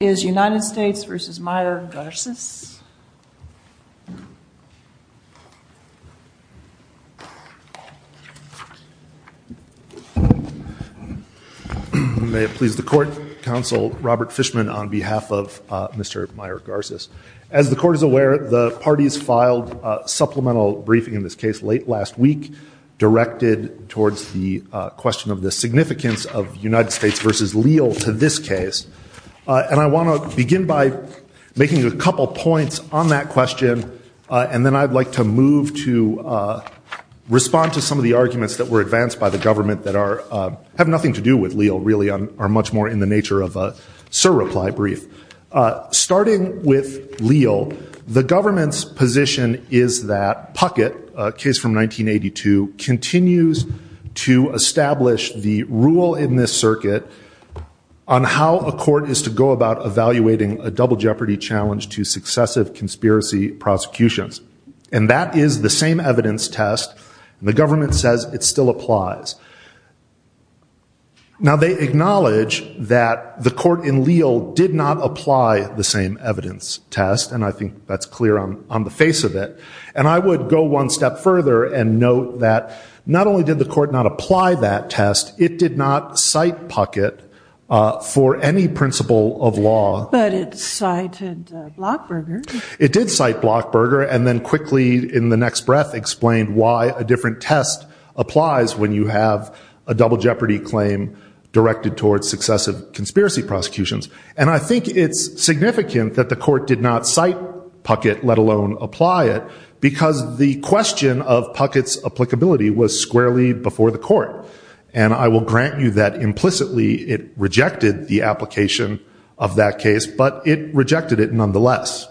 May it please the Court, Counsel Robert Fishman on behalf of Mr. Mier-Garces. As the Court is aware, the parties filed a supplemental briefing in this case late last week, directed towards the question of the significance of United States v. Leal to this case. And I want to start with the question of whether or not the United States v. Mier-Garces is a legal entity. And I want to begin by making a couple points on that question, and then I'd like to move to respond to some of the arguments that were advanced by the government that have nothing to do with Leal, really are much more in the nature of a surreply brief. Starting with Leal, the government's position is that Puckett, a case from 1982, continues to establish the rule in this circuit on how a court is to go about evaluating a double jeopardy challenge to successive conspiracy prosecutions. And that is the same evidence test, and the government says it still applies. Now they acknowledge that the court in Leal did not apply the same evidence test, and I think that's clear on the face of it. And I would go one step further and note that not only did the court not apply that test, it did not cite Puckett for any principle of law. But it cited Blockberger. Because the question of Puckett's applicability was squarely before the court, and I will grant you that implicitly it rejected the application of that case, but it rejected it nonetheless.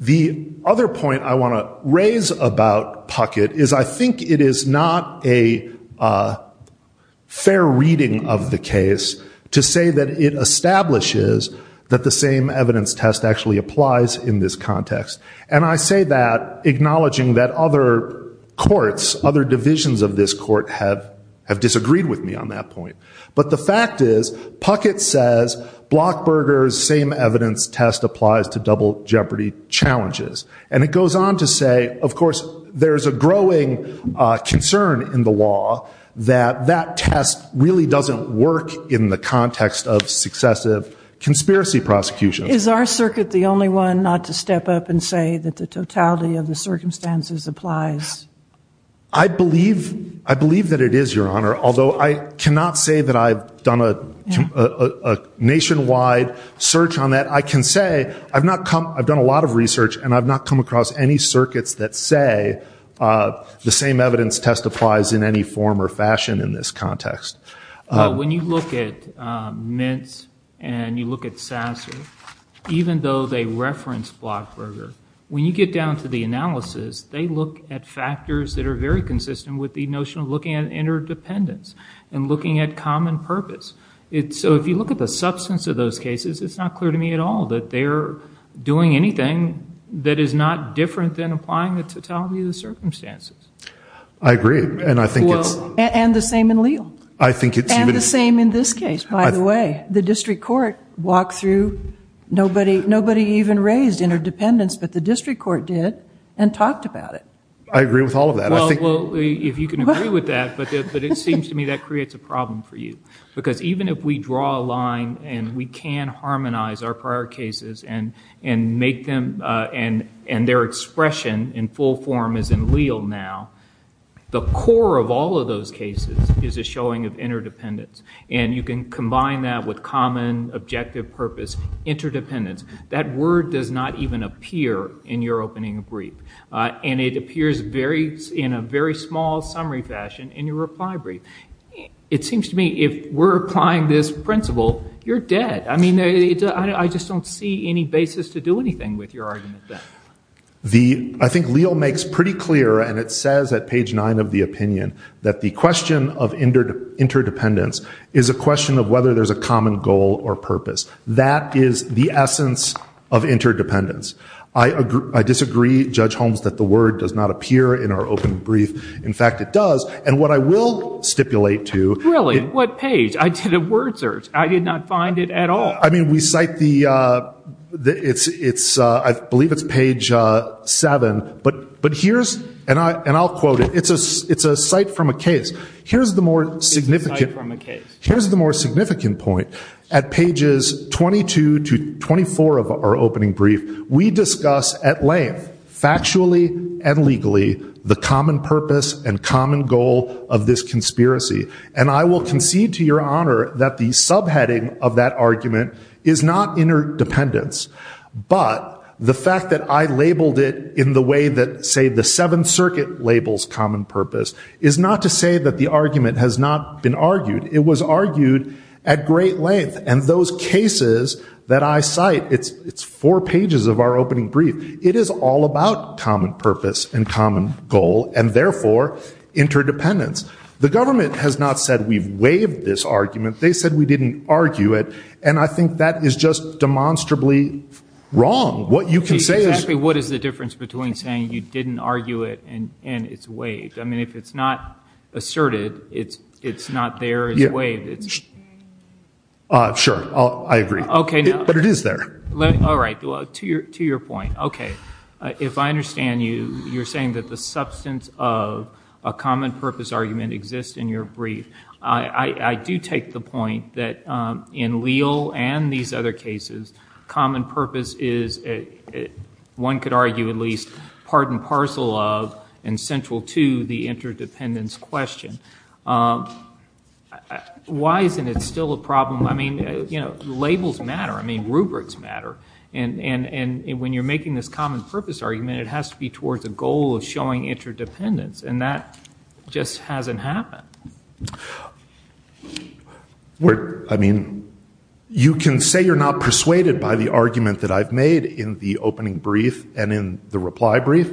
The other point I want to raise about Puckett is I think it is not a fair reading of the case to say that it establishes that the same evidence test actually applies in this context. And I say that acknowledging that other courts, other divisions of this court, have disagreed with me on that point. But the fact is, Puckett says Blockberger's same evidence test applies to double jeopardy challenges. And it goes on to say, of course, there's a growing concern in the law that that test really doesn't work in the context of successive conspiracy prosecutions. Is our circuit the only one not to step up and say that the totality of the circumstances applies? I believe that it is, Your Honor, although I cannot say that I've done a nationwide search on that. I can say I've done a lot of research and I've not come across any circuits that say the same evidence test applies in any form or fashion in this context. When you look at Mintz and you look at Sasser, even though they reference Blockberger, when you get down to the analysis, they look at factors that are very consistent with the notion of looking at interdependence and looking at common purpose. So if you look at the substance of those cases, it's not clear to me at all that they're doing anything that is not different than applying the totality of the circumstances. I agree. And I think it's... And the same in Leal. I think it's... And the same in this case, by the way. The district court walked through, nobody even raised interdependence, but the district court did and talked about it. I agree with all of that. Well, if you can agree with that, but it seems to me that creates a problem for you. Because even if we draw a line and we can harmonize our prior cases and make them... And their expression in full form is in Leal now, the core of all of those cases is a showing of interdependence. And you can combine that with common objective purpose interdependence. That word does not even appear in your opening brief. And it appears in a very small summary fashion in your reply brief. It seems to me if we're applying this principle, you're dead. I mean, I just don't see any basis to do anything with your argument then. The... I think Leal makes pretty clear, and it says at page 9 of the opinion, that the question of interdependence is a question of whether there's a common goal or purpose. That is the essence of interdependence. I disagree, Judge Holmes, that the word does not appear in our opening brief. In fact, it does. And what I will stipulate to... Really? What page? I did a word search. I did not find it at all. I mean, we cite the... It's... I believe it's page 7. But here's... And I'll quote it. It's a cite from a case. Here's the more significant... It's a cite from a case. Here's the more significant point. At pages 22 to 24 of our opening brief, we discuss at length, factually and legally, the common purpose and common goal of this conspiracy. And I will concede to your honor that the subheading of that argument is not interdependence. But the fact that I labeled it in the way that, say, the Seventh Circuit labels common purpose, is not to say that the argument has not been argued. It was argued at great length. And those cases that I cite, it's four pages of our opening brief. It is all about common purpose and common goal and, therefore, interdependence. The government has not said we've waived this argument. They said we didn't argue it. And I think that is just demonstrably wrong. What you can say is... Exactly what is the difference between saying you didn't argue it and it's waived? I mean, if it's not asserted, it's not there as waived. Sure. I agree. But it is there. All right. To your point. Okay. If I understand you, you're saying that the substance of a common purpose argument exists in your brief. I do take the point that in Leal and these other cases, common purpose is, one could argue, at least part and parcel of and central to the interdependence question. Why isn't it still a problem? I mean, you know, labels matter. I mean, rubrics matter. And when you're making this common purpose argument, it has to be towards a goal of showing interdependence. And that just hasn't happened. I mean, you can say you're not persuaded by the argument that I've made in the opening brief and in the reply brief.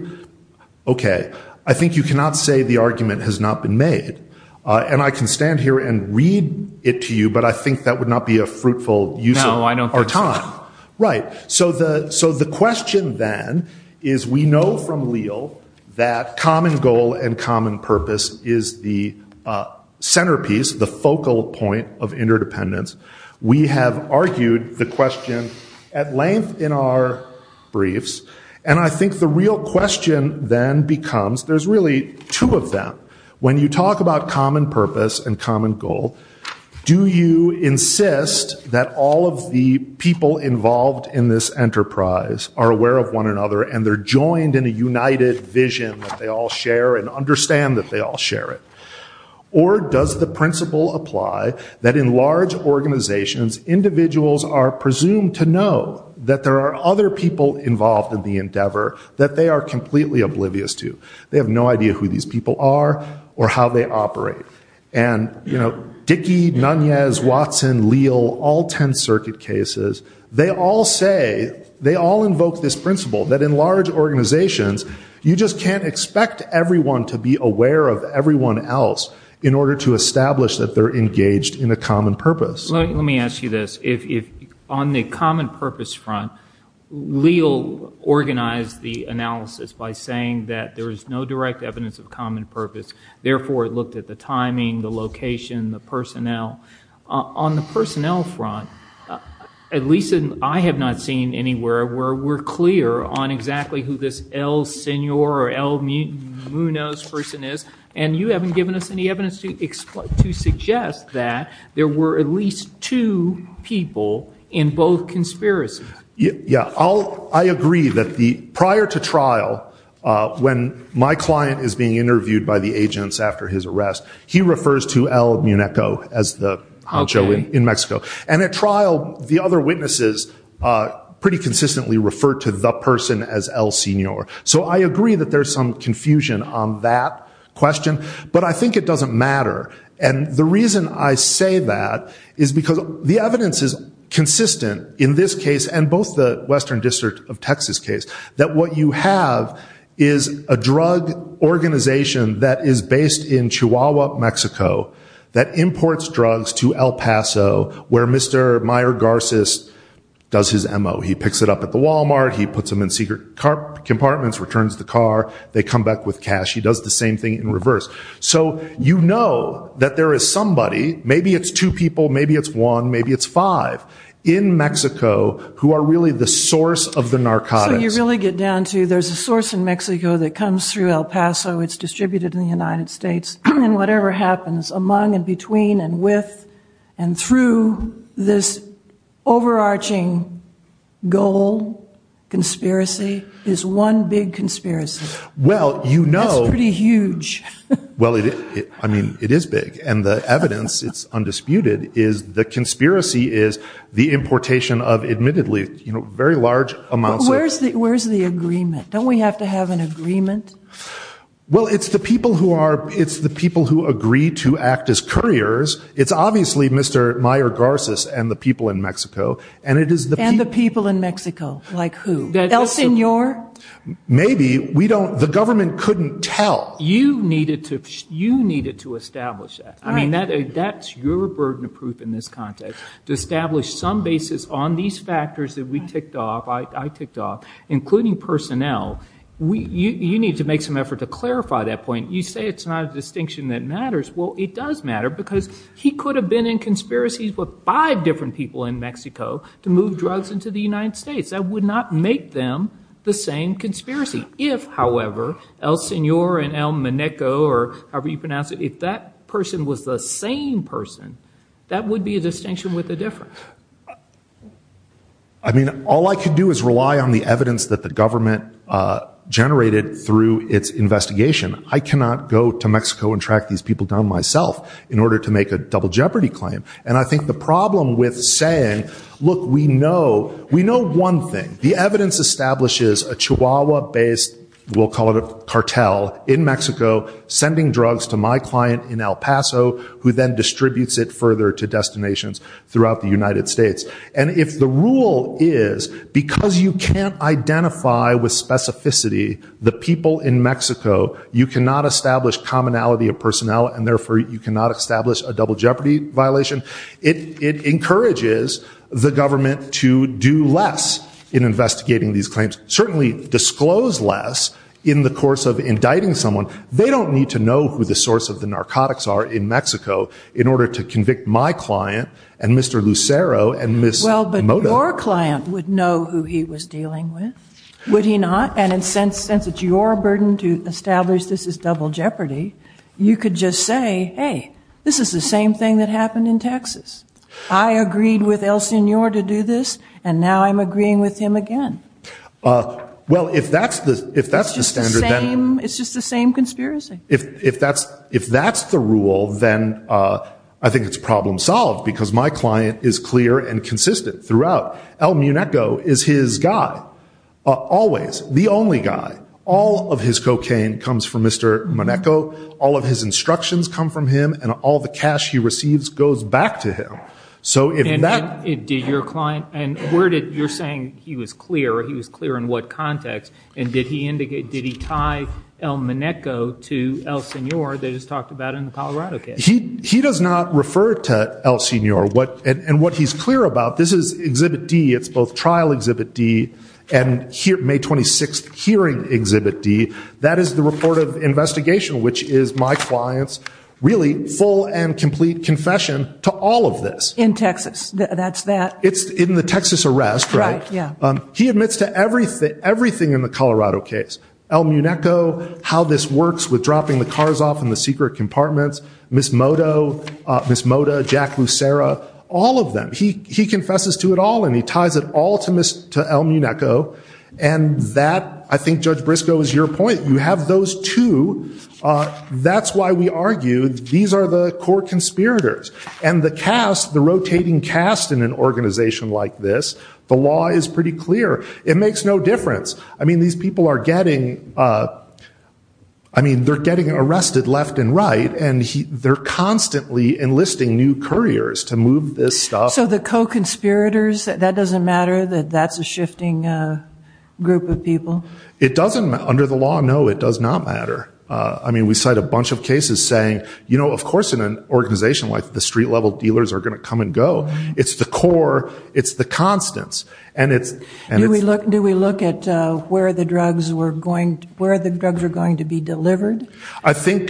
Okay. I think you cannot say the argument has not been made. And I can stand here and read it to you, but I think that would not be a fruitful use of our time. Right. So the question then is we know from Leal that common goal and common purpose is the centerpiece, the focal point of interdependence. We have argued the question at length in our briefs. And I think the real question then becomes, there's really two of them. When you talk about common purpose and common goal, do you insist that all of the people involved in this enterprise are aware of one another and they're joined in a united vision that they all share and understand that they all share it? Or does the principle apply that in large organizations, individuals are presumed to know that there are other people involved in the endeavor that they are completely oblivious to? They have no idea who these people are or how they operate. And Dickey, Nunez, Watson, Leal, all 10th Circuit cases, they all say, they all invoke this principle that in large organizations, you just can't expect everyone to be aware of everyone else in order to establish that they're engaged in a common purpose. Let me ask you this. On the common purpose front, Leal organized the analysis by saying that there is no direct evidence of common purpose. Therefore, it looked at the timing, the location, the personnel. On the personnel front, at least I have not seen anywhere where we're clear on exactly who this El Senor or El Munoz person is. And you haven't given us any evidence to suggest that there were at least two people in both conspiracies. Yeah. I agree that prior to trial, when my client is being interviewed by the agents after his arrest, he refers to El Muneco as the macho in Mexico. And at trial, the other witnesses pretty consistently referred to the person as El Senor. So I agree that there's some confusion on that question. But I think it doesn't matter. And the reason I say that is because the evidence is consistent in this case and both the Western District of Texas case, that what you have is a drug organization that is based in Chihuahua, Mexico, that imports drugs to El Paso, where Mr. Meyer Garces does his M.O. He picks it up at the Walmart. He puts them in secret compartments, returns the car. They come back with cash. He does the same thing in reverse. So you know that there is somebody, maybe it's two people, maybe it's one, maybe it's five, in Mexico who are really the source of the narcotics. So you really get down to there's a source in Mexico that comes through El Paso. It's distributed in the United States. And whatever happens among and between and with and through this overarching goal, conspiracy, is one big conspiracy. That's pretty huge. Well, I mean, it is big. And the evidence, it's undisputed, is the conspiracy is the importation of admittedly very large amounts of Where's the agreement? Don't we have to have an agreement? Well, it's the people who agree to act as couriers. It's obviously Mr. Meyer Garces and the people in Mexico. And the people in Mexico, like who? El Senor? Maybe. The government couldn't tell. You needed to establish that. I mean, that's your burden of proof in this context, to establish some basis on these factors that we ticked off, I ticked off, including personnel. You need to make some effort to clarify that point. You say it's not a distinction that matters. Well, it does matter because he could have been in conspiracies with five different people in Mexico to move drugs into the United States. That would not make them the same conspiracy. If, however, El Senor and El Mineco or however you pronounce it, if that person was the same person, that would be a distinction with a difference. I mean, all I could do is rely on the evidence that the government generated through its investigation. I cannot go to Mexico and track these people down myself in order to make a double jeopardy claim. And I think the problem with saying, look, we know one thing. The evidence establishes a Chihuahua-based, we'll call it a cartel, in Mexico, sending drugs to my client in El Paso, who then distributes it further to destinations throughout the United States. And if the rule is, because you can't identify with specificity the people in Mexico, you cannot establish commonality of personnel, and therefore you cannot establish a double jeopardy violation, it encourages the government to do less in investigating these claims. Certainly disclose less in the course of indicting someone. They don't need to know who the source of the narcotics are in Mexico in order to convict my client and Mr. Lucero and Ms. Moda. Well, but your client would know who he was dealing with, would he not? And since it's your burden to establish this is double jeopardy, you could just say, hey, this is the same thing that happened in Texas. I agreed with El Senor to do this, and now I'm agreeing with him again. Well, if that's the standard, then- It's just the same conspiracy. If that's the rule, then I think it's problem solved, because my client is clear and consistent throughout. El Muneco is his guy, always, the only guy. All of his cocaine comes from Mr. Muneco, all of his instructions come from him, and all the cash he receives goes back to him. And did your client, and you're saying he was clear, he was clear in what context, and did he tie El Muneco to El Senor that is talked about in the Colorado case? He does not refer to El Senor. And what he's clear about, this is Exhibit D, it's both Trial Exhibit D and May 26th Hearing Exhibit D. That is the report of investigation, which is my client's really full and complete confession to all of this. In Texas, that's that. It's in the Texas arrest, right? Right, yeah. He admits to everything in the Colorado case, El Muneco, how this works with dropping the cars off in the secret compartments, Ms. Moda, Jack Lucera, all of them. He confesses to it all, and he ties it all to El Muneco. And that, I think, Judge Briscoe, is your point. You have those two. That's why we argue these are the core conspirators. And the cast, the rotating cast in an organization like this, the law is pretty clear. It makes no difference. I mean, these people are getting arrested left and right, and they're constantly enlisting new couriers to move this stuff. So the co-conspirators, that doesn't matter, that that's a shifting group of people? It doesn't. Under the law, no, it does not matter. I mean, we cite a bunch of cases saying, you know, of course in an organization like the street-level dealers are going to come and go. It's the core. It's the constants. Do we look at where the drugs are going to be delivered? I think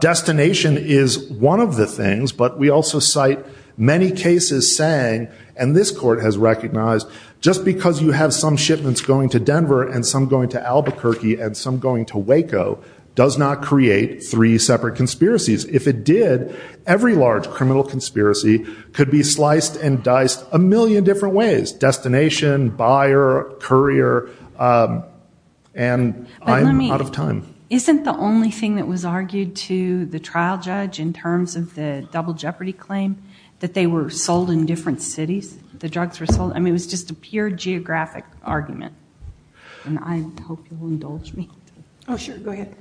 destination is one of the things, but we also cite many cases saying, and this court has recognized, just because you have some shipments going to Denver and some going to Albuquerque and some going to Waco, does not create three separate conspiracies. If it did, every large criminal conspiracy could be sliced and diced a million different ways. Destination, buyer, courier, and I'm out of time. Isn't the only thing that was argued to the trial judge in terms of the double jeopardy claim, that they were sold in different cities, the drugs were sold? I mean, it was just a pure geographic argument, and I hope you'll indulge me. Oh, sure. Go ahead.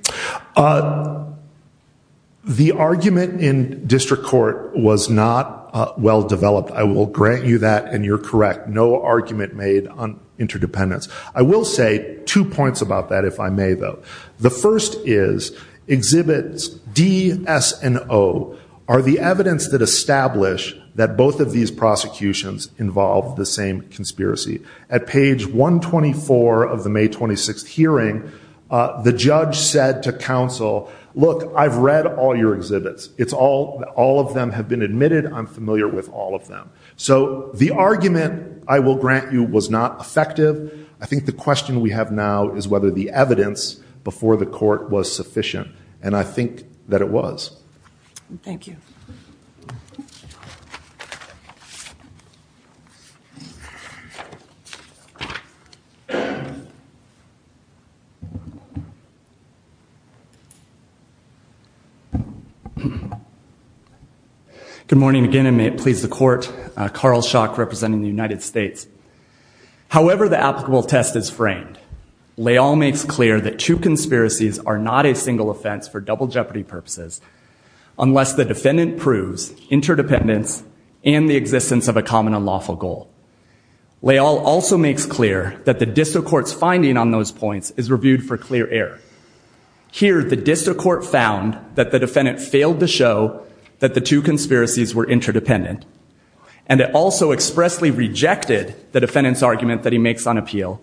The argument in district court was not well-developed. I will grant you that, and you're correct. No argument made on interdependence. I will say two points about that, if I may, though. The first is exhibits D, S, and O are the evidence that establish that both of these prosecutions involve the same conspiracy. At page 124 of the May 26th hearing, the judge said to counsel, look, I've read all your exhibits. All of them have been admitted. I'm familiar with all of them. So the argument, I will grant you, was not effective. I think the question we have now is whether the evidence before the court was sufficient, and I think that it was. Thank you. Good morning again, and may it please the court. Carl Schock representing the United States. However the applicable test is framed, Leal makes clear that two conspiracies are not a single offense for double jeopardy purposes, unless the defendant proves interdependence and the existence of a common unlawful goal. Leal also makes clear that the district court's finding on those points is reviewed for clear error. Here, the district court found that the defendant failed to show that the two conspiracies were interdependent, and it also expressly rejected the defendant's argument that he makes on appeal,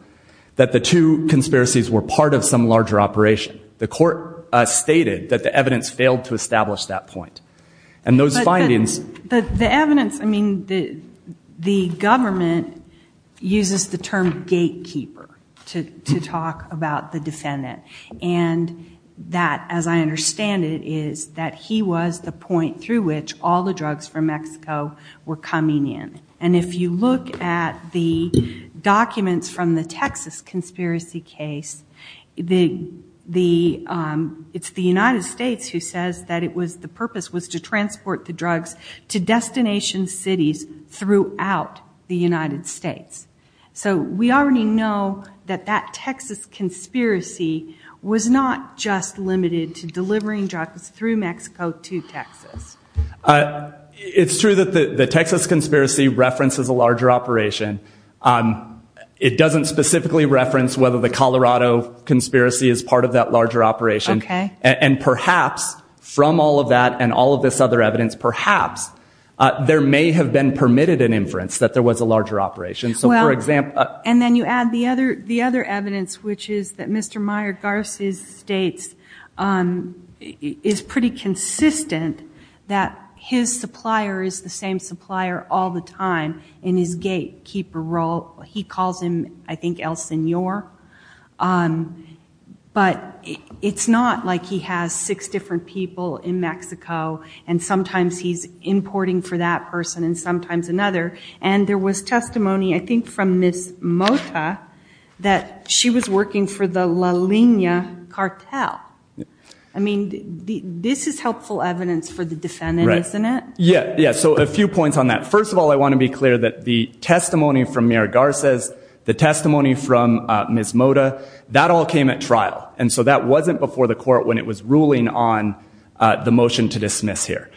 that the two conspiracies were part of some larger operation. The court stated that the evidence failed to establish that point. But the evidence, I mean, the government uses the term gatekeeper to talk about the defendant, and that, as I understand it, is that he was the point through which all the drugs from Mexico were coming in. And if you look at the documents from the Texas conspiracy case, it's the United States who says that the purpose was to transport the drugs to destination cities throughout the United States. So we already know that that Texas conspiracy was not just limited to delivering drugs through Mexico to Texas. It's true that the Texas conspiracy references a larger operation. It doesn't specifically reference whether the Colorado conspiracy is part of that larger operation. And perhaps from all of that and all of this other evidence, perhaps there may have been permitted an inference that there was a larger operation. And then you add the other evidence, which is that Mr. Meyer-Garces states is pretty consistent that his supplier is the same supplier all the time in his gatekeeper role. He calls him, I think, El Senor. But it's not like he has six different people in Mexico, and sometimes he's importing for that person and sometimes another. And there was testimony, I think, from Ms. Mota that she was working for the La Lina cartel. I mean, this is helpful evidence for the defendant, isn't it? Yeah. Yeah. So a few points on that. First of all, I want to be clear that the testimony from Meyer-Garces, the testimony from Ms. Mota, that all came at trial. And so that wasn't before the court when it was ruling on the motion to dismiss here.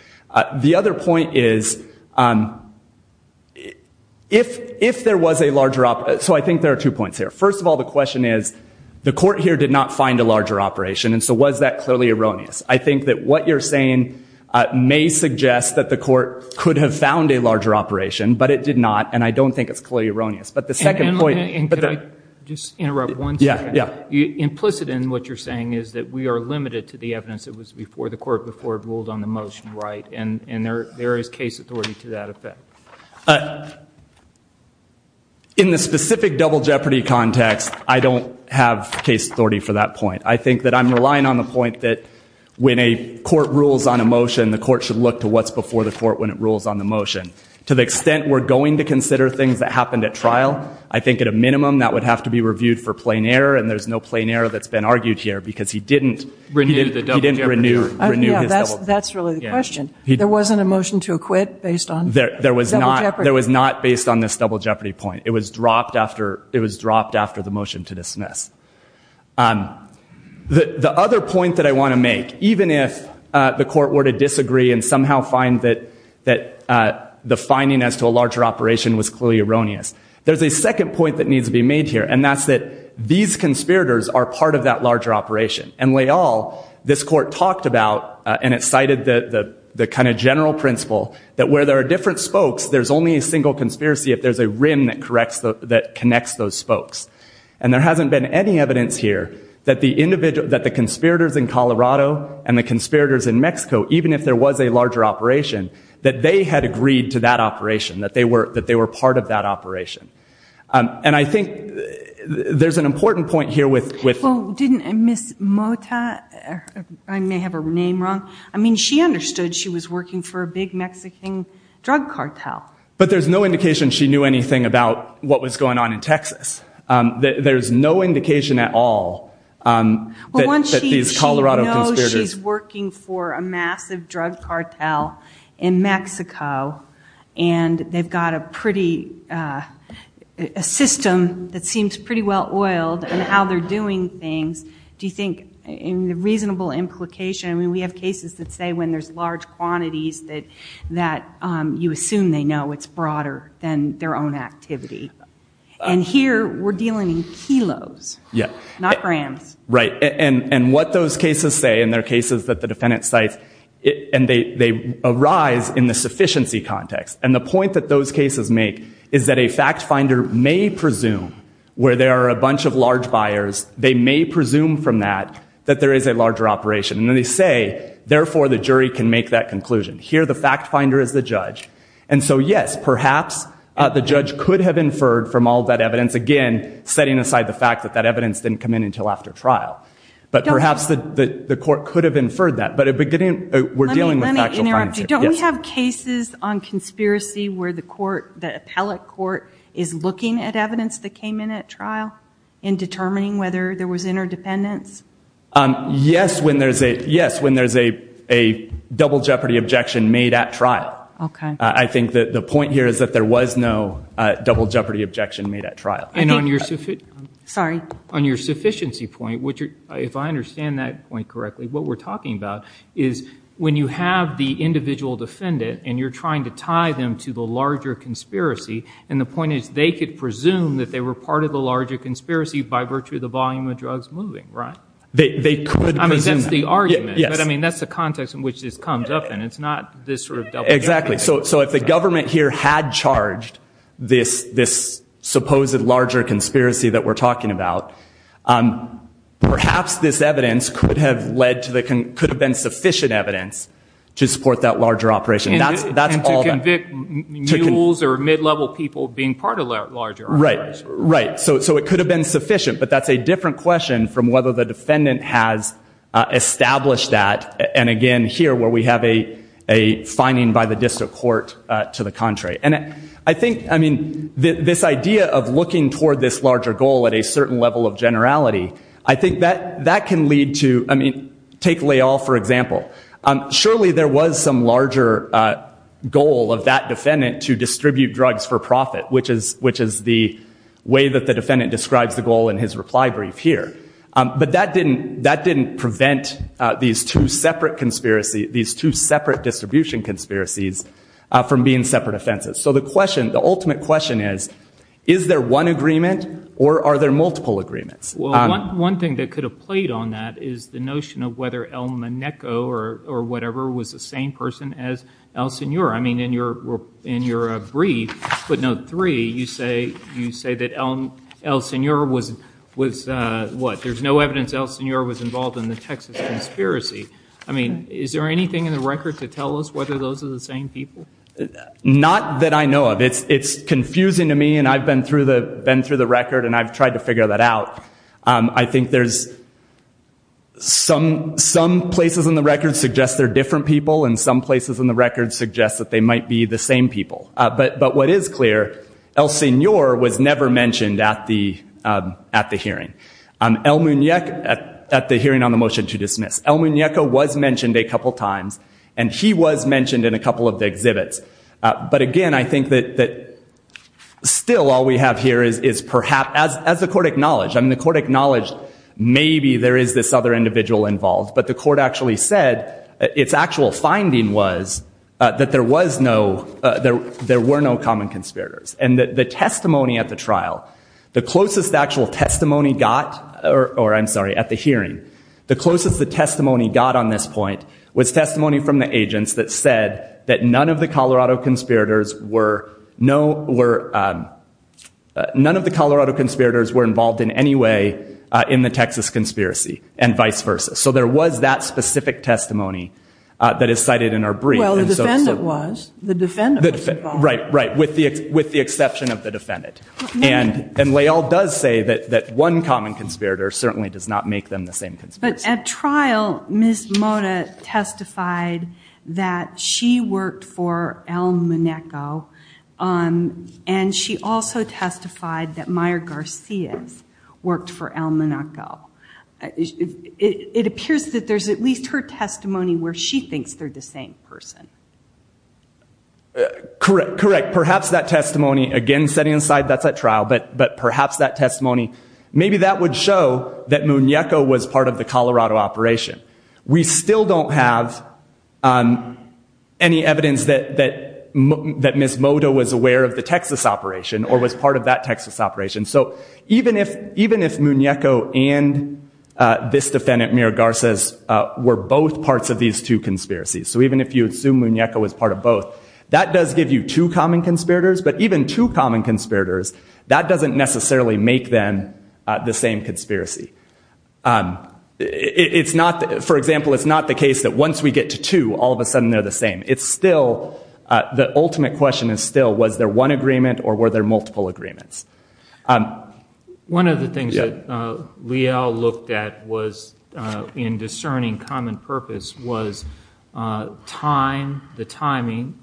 The other point is if there was a larger operation. So I think there are two points here. First of all, the question is the court here did not find a larger operation. And so was that clearly erroneous? I think that what you're saying may suggest that the court could have found a larger operation, but it did not. And I don't think it's clearly erroneous. And could I just interrupt one second? Yeah. Yeah. Implicit in what you're saying is that we are limited to the evidence that was before the court before it ruled on the motion, right? And there is case authority to that effect. In the specific double jeopardy context, I don't have case authority for that point. I think that I'm relying on the point that when a court rules on a motion, the court should look to what's before the court when it rules on the motion. To the extent we're going to consider things that happened at trial, I think at a minimum that would have to be reviewed for plain error, and there's no plain error that's been argued here because he didn't renew his double jeopardy. That's really the question. There wasn't a motion to acquit based on double jeopardy? There was not based on this double jeopardy point. It was dropped after the motion to dismiss. The other point that I want to make, even if the court were to disagree and somehow find that the finding as to a larger operation was clearly erroneous, there's a second point that needs to be made here, and that's that these conspirators are part of that larger operation. And Leal, this court talked about, and it cited the kind of general principle that where there are different spokes, there's only a single conspiracy if there's a rim that connects those spokes. And there hasn't been any evidence here that the conspirators in Colorado and the conspirators in Mexico, even if there was a larger operation, that they had agreed to that operation, that they were part of that operation. And I think there's an important point here with... Well, didn't Ms. Mota, I may have her name wrong, I mean, she understood she was working for a big Mexican drug cartel. But there's no indication she knew anything about what was going on in Texas. There's no indication at all that these Colorado conspirators... Well, once she knows she's working for a massive drug cartel in Mexico and they've got a pretty, a system that seems pretty well oiled in how they're doing things, do you think in the reasonable implication, I mean, we have cases that say when there's large quantities that you assume they know it's broader than their own activity. And here we're dealing in kilos, not grams. Right. And what those cases say, and there are cases that the defendant cites, and they arise in the sufficiency context. And the point that those cases make is that a fact finder may presume where there are a bunch of large buyers, they may presume from that that there is a larger operation. And they say, therefore, the jury can make that conclusion. Here the fact finder is the judge. And so, yes, perhaps the judge could have inferred from all that evidence, again, setting aside the fact that that evidence didn't come in until after trial. But perhaps the court could have inferred that. But we're dealing with factual findings here. Let me interrupt you. Don't we have cases on conspiracy where the court, the appellate court, is looking at evidence that came in at trial in determining whether there was interdependence? Yes, when there's a double jeopardy objection made at trial. Okay. I think that the point here is that there was no double jeopardy objection made at trial. And on your sufficiency point, if I understand that point correctly, what we're talking about is when you have the individual defendant and you're trying to tie them to the larger conspiracy, and the point is they could presume that they were part of the larger conspiracy by virtue of the volume of drugs moving, right? They could presume that. I mean, that's the argument. But, I mean, that's the context in which this comes up in. It's not this sort of double jeopardy. Exactly. So if the government here had charged this supposed larger conspiracy that we're talking about, perhaps this evidence could have been sufficient evidence to support that larger operation. And to convict mules or mid-level people being part of that larger operation. Right. Right. So it could have been sufficient, but that's a different question from whether the defendant has established that. And, again, here where we have a finding by the district court to the contrary. And I think, I mean, this idea of looking toward this larger goal at a certain level of generality, I think that can lead to, I mean, take Leal, for example. Surely there was some larger goal of that defendant to distribute drugs for profit, which is the way that the defendant describes the goal in his reply brief here. But that didn't prevent these two separate distribution conspiracies from being separate offenses. So the question, the ultimate question is, is there one agreement or are there multiple agreements? Well, one thing that could have played on that is the notion of whether El Moneco or whatever was the same person as El Senor. I mean, in your brief, footnote three, you say that El Senor was what? There's no evidence El Senor was involved in the Texas conspiracy. I mean, is there anything in the record to tell us whether those are the same people? Not that I know of. It's confusing to me, and I've been through the record and I've tried to figure that out. I think there's some places in the record suggest they're different people and some places in the record suggest that they might be the same people. But what is clear, El Senor was never mentioned at the hearing, at the hearing on the motion to dismiss. El Moneco was mentioned a couple times, and he was mentioned in a couple of the exhibits. But, again, I think that still all we have here is perhaps, as the court acknowledged, I mean, the court acknowledged maybe there is this other individual involved, but the court actually said its actual finding was that there were no common conspirators. And the testimony at the trial, the closest actual testimony got, or I'm sorry, at the hearing, the closest the testimony got on this point was testimony from the agents that said that none of the Colorado conspirators were involved in any way in the Texas conspiracy and vice versa. So there was that specific testimony that is cited in our brief. Well, the defendant was. The defendant was involved. Right, right, with the exception of the defendant. And Lael does say that one common conspirator certainly does not make them the same conspirators. But at trial, Ms. Mota testified that she worked for El Moneco, and she also testified that Mayer Garcia worked for El Moneco. It appears that there's at least her testimony where she thinks they're the same person. Correct, correct. Perhaps that testimony, again, setting aside that's at trial, but perhaps that testimony, maybe that would show that Moneco was part of the Colorado operation. We still don't have any evidence that Ms. Mota was aware of the Texas operation or was part of that Texas operation. So even if Moneco and this defendant, Mayer Garcia, were both parts of these two conspiracies, so even if you assume Moneco was part of both, that does give you two common conspirators. But even two common conspirators, that doesn't necessarily make them the same conspiracy. For example, it's not the case that once we get to two, all of a sudden they're the same. The ultimate question is still, was there one agreement or were there multiple agreements? One of the things that Leal looked at in discerning common purpose was time, the timing,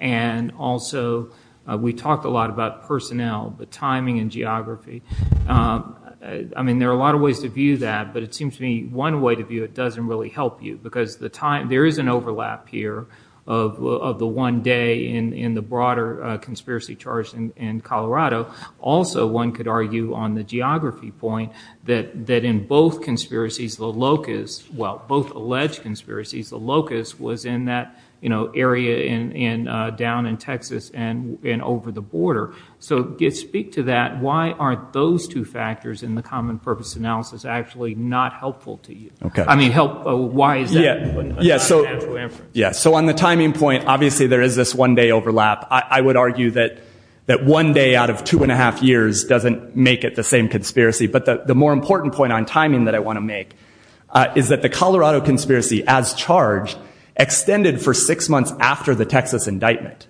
and also we talked a lot about personnel, the timing and geography. There are a lot of ways to view that, but it seems to me one way to view it doesn't really help you because there is an overlap here of the one day in the broader conspiracy charge in Colorado. Also, one could argue on the geography point that in both alleged conspiracies, the locus was in that area down in Texas and over the border. So speak to that. Why aren't those two factors in the common purpose analysis actually not helpful to you? I mean, why is that? On the timing point, obviously there is this one day overlap. I would argue that one day out of two and a half years doesn't make it the same conspiracy. But the more important point on timing that I want to make is that the Colorado conspiracy as charged extended for six months after the Texas indictment.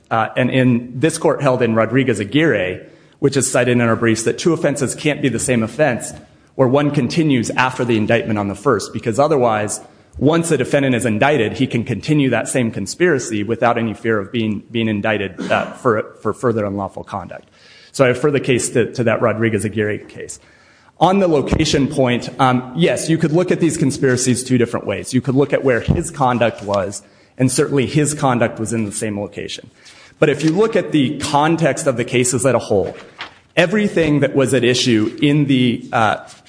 This court held in Rodriguez-Aguirre, which is cited in our briefs, that two offenses can't be the same offense where one continues after the indictment on the first because otherwise once a defendant is indicted, he can continue that same conspiracy without any fear of being indicted for further unlawful conduct. So I refer the case to that Rodriguez-Aguirre case. On the location point, yes, you could look at these conspiracies two different ways. You could look at where his conduct was, and certainly his conduct was in the same location. But if you look at the context of the cases as a whole, everything that was at issue in the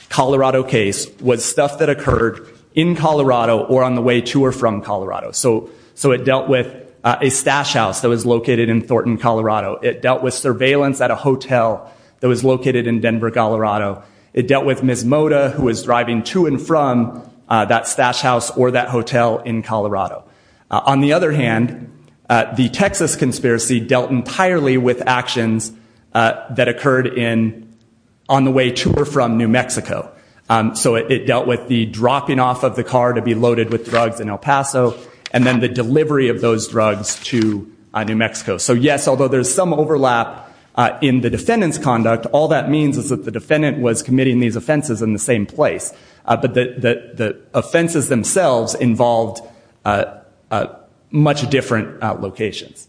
Colorado case was stuff that occurred in Colorado or on the way to or from Colorado. So it dealt with a stash house that was located in Thornton, Colorado. It dealt with surveillance at a hotel that was located in Denver, Colorado. It dealt with Ms. Moda, who was driving to and from that stash house or that hotel in Colorado. On the other hand, the Texas conspiracy dealt entirely with actions that occurred on the way to or from New Mexico. So it dealt with the dropping off of the car to be loaded with drugs in El Paso and then the delivery of those drugs to New Mexico. So, yes, although there's some overlap in the defendant's conduct, all that means is that the defendant was committing these offenses in the same place. But the offenses themselves involved much different locations.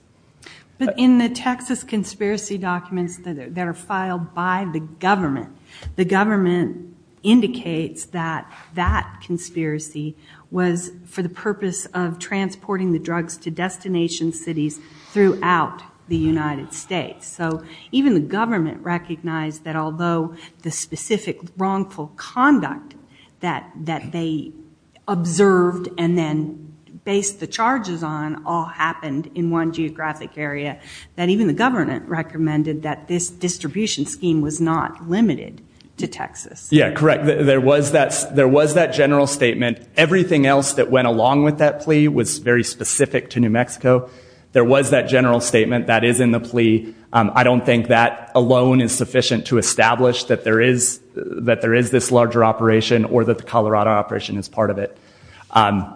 But in the Texas conspiracy documents that are filed by the government, the government indicates that that conspiracy was for the purpose of transporting the drugs to destination cities throughout the United States. So even the government recognized that although the specific wrongful conduct that they observed and then based the charges on all happened in one geographic area, that even the government recommended that this distribution scheme was not limited to Texas. Yeah, correct. There was that general statement. Everything else that went along with that plea was very specific to New Mexico. There was that general statement that is in the plea. I don't think that alone is sufficient to establish that there is this larger operation or that the Colorado operation is part of it. But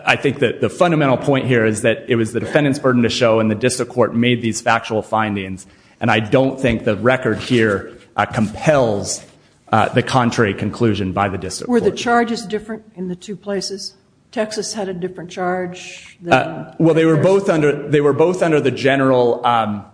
I think that the fundamental point here is that it was the defendant's burden to show and the district court made these factual findings. And I don't think the record here compels the contrary conclusion by the district court. Were the charges different in the two places? Texas had a different charge. Well, they were both under the general drug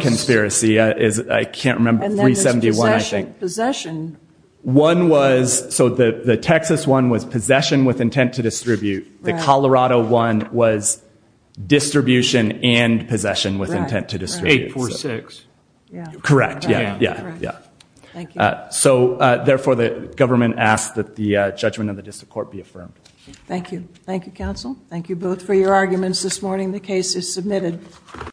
conspiracy. I can't remember, 371, I think. Possession. One was, so the Texas one was possession with intent to distribute. The Colorado one was distribution and possession with intent to distribute. 846. Correct, yeah, yeah. Thank you. So, therefore, the government asks that the judgment of the district court be affirmed. Thank you. Thank you, counsel. Thank you both for your arguments this morning. The case is submitted.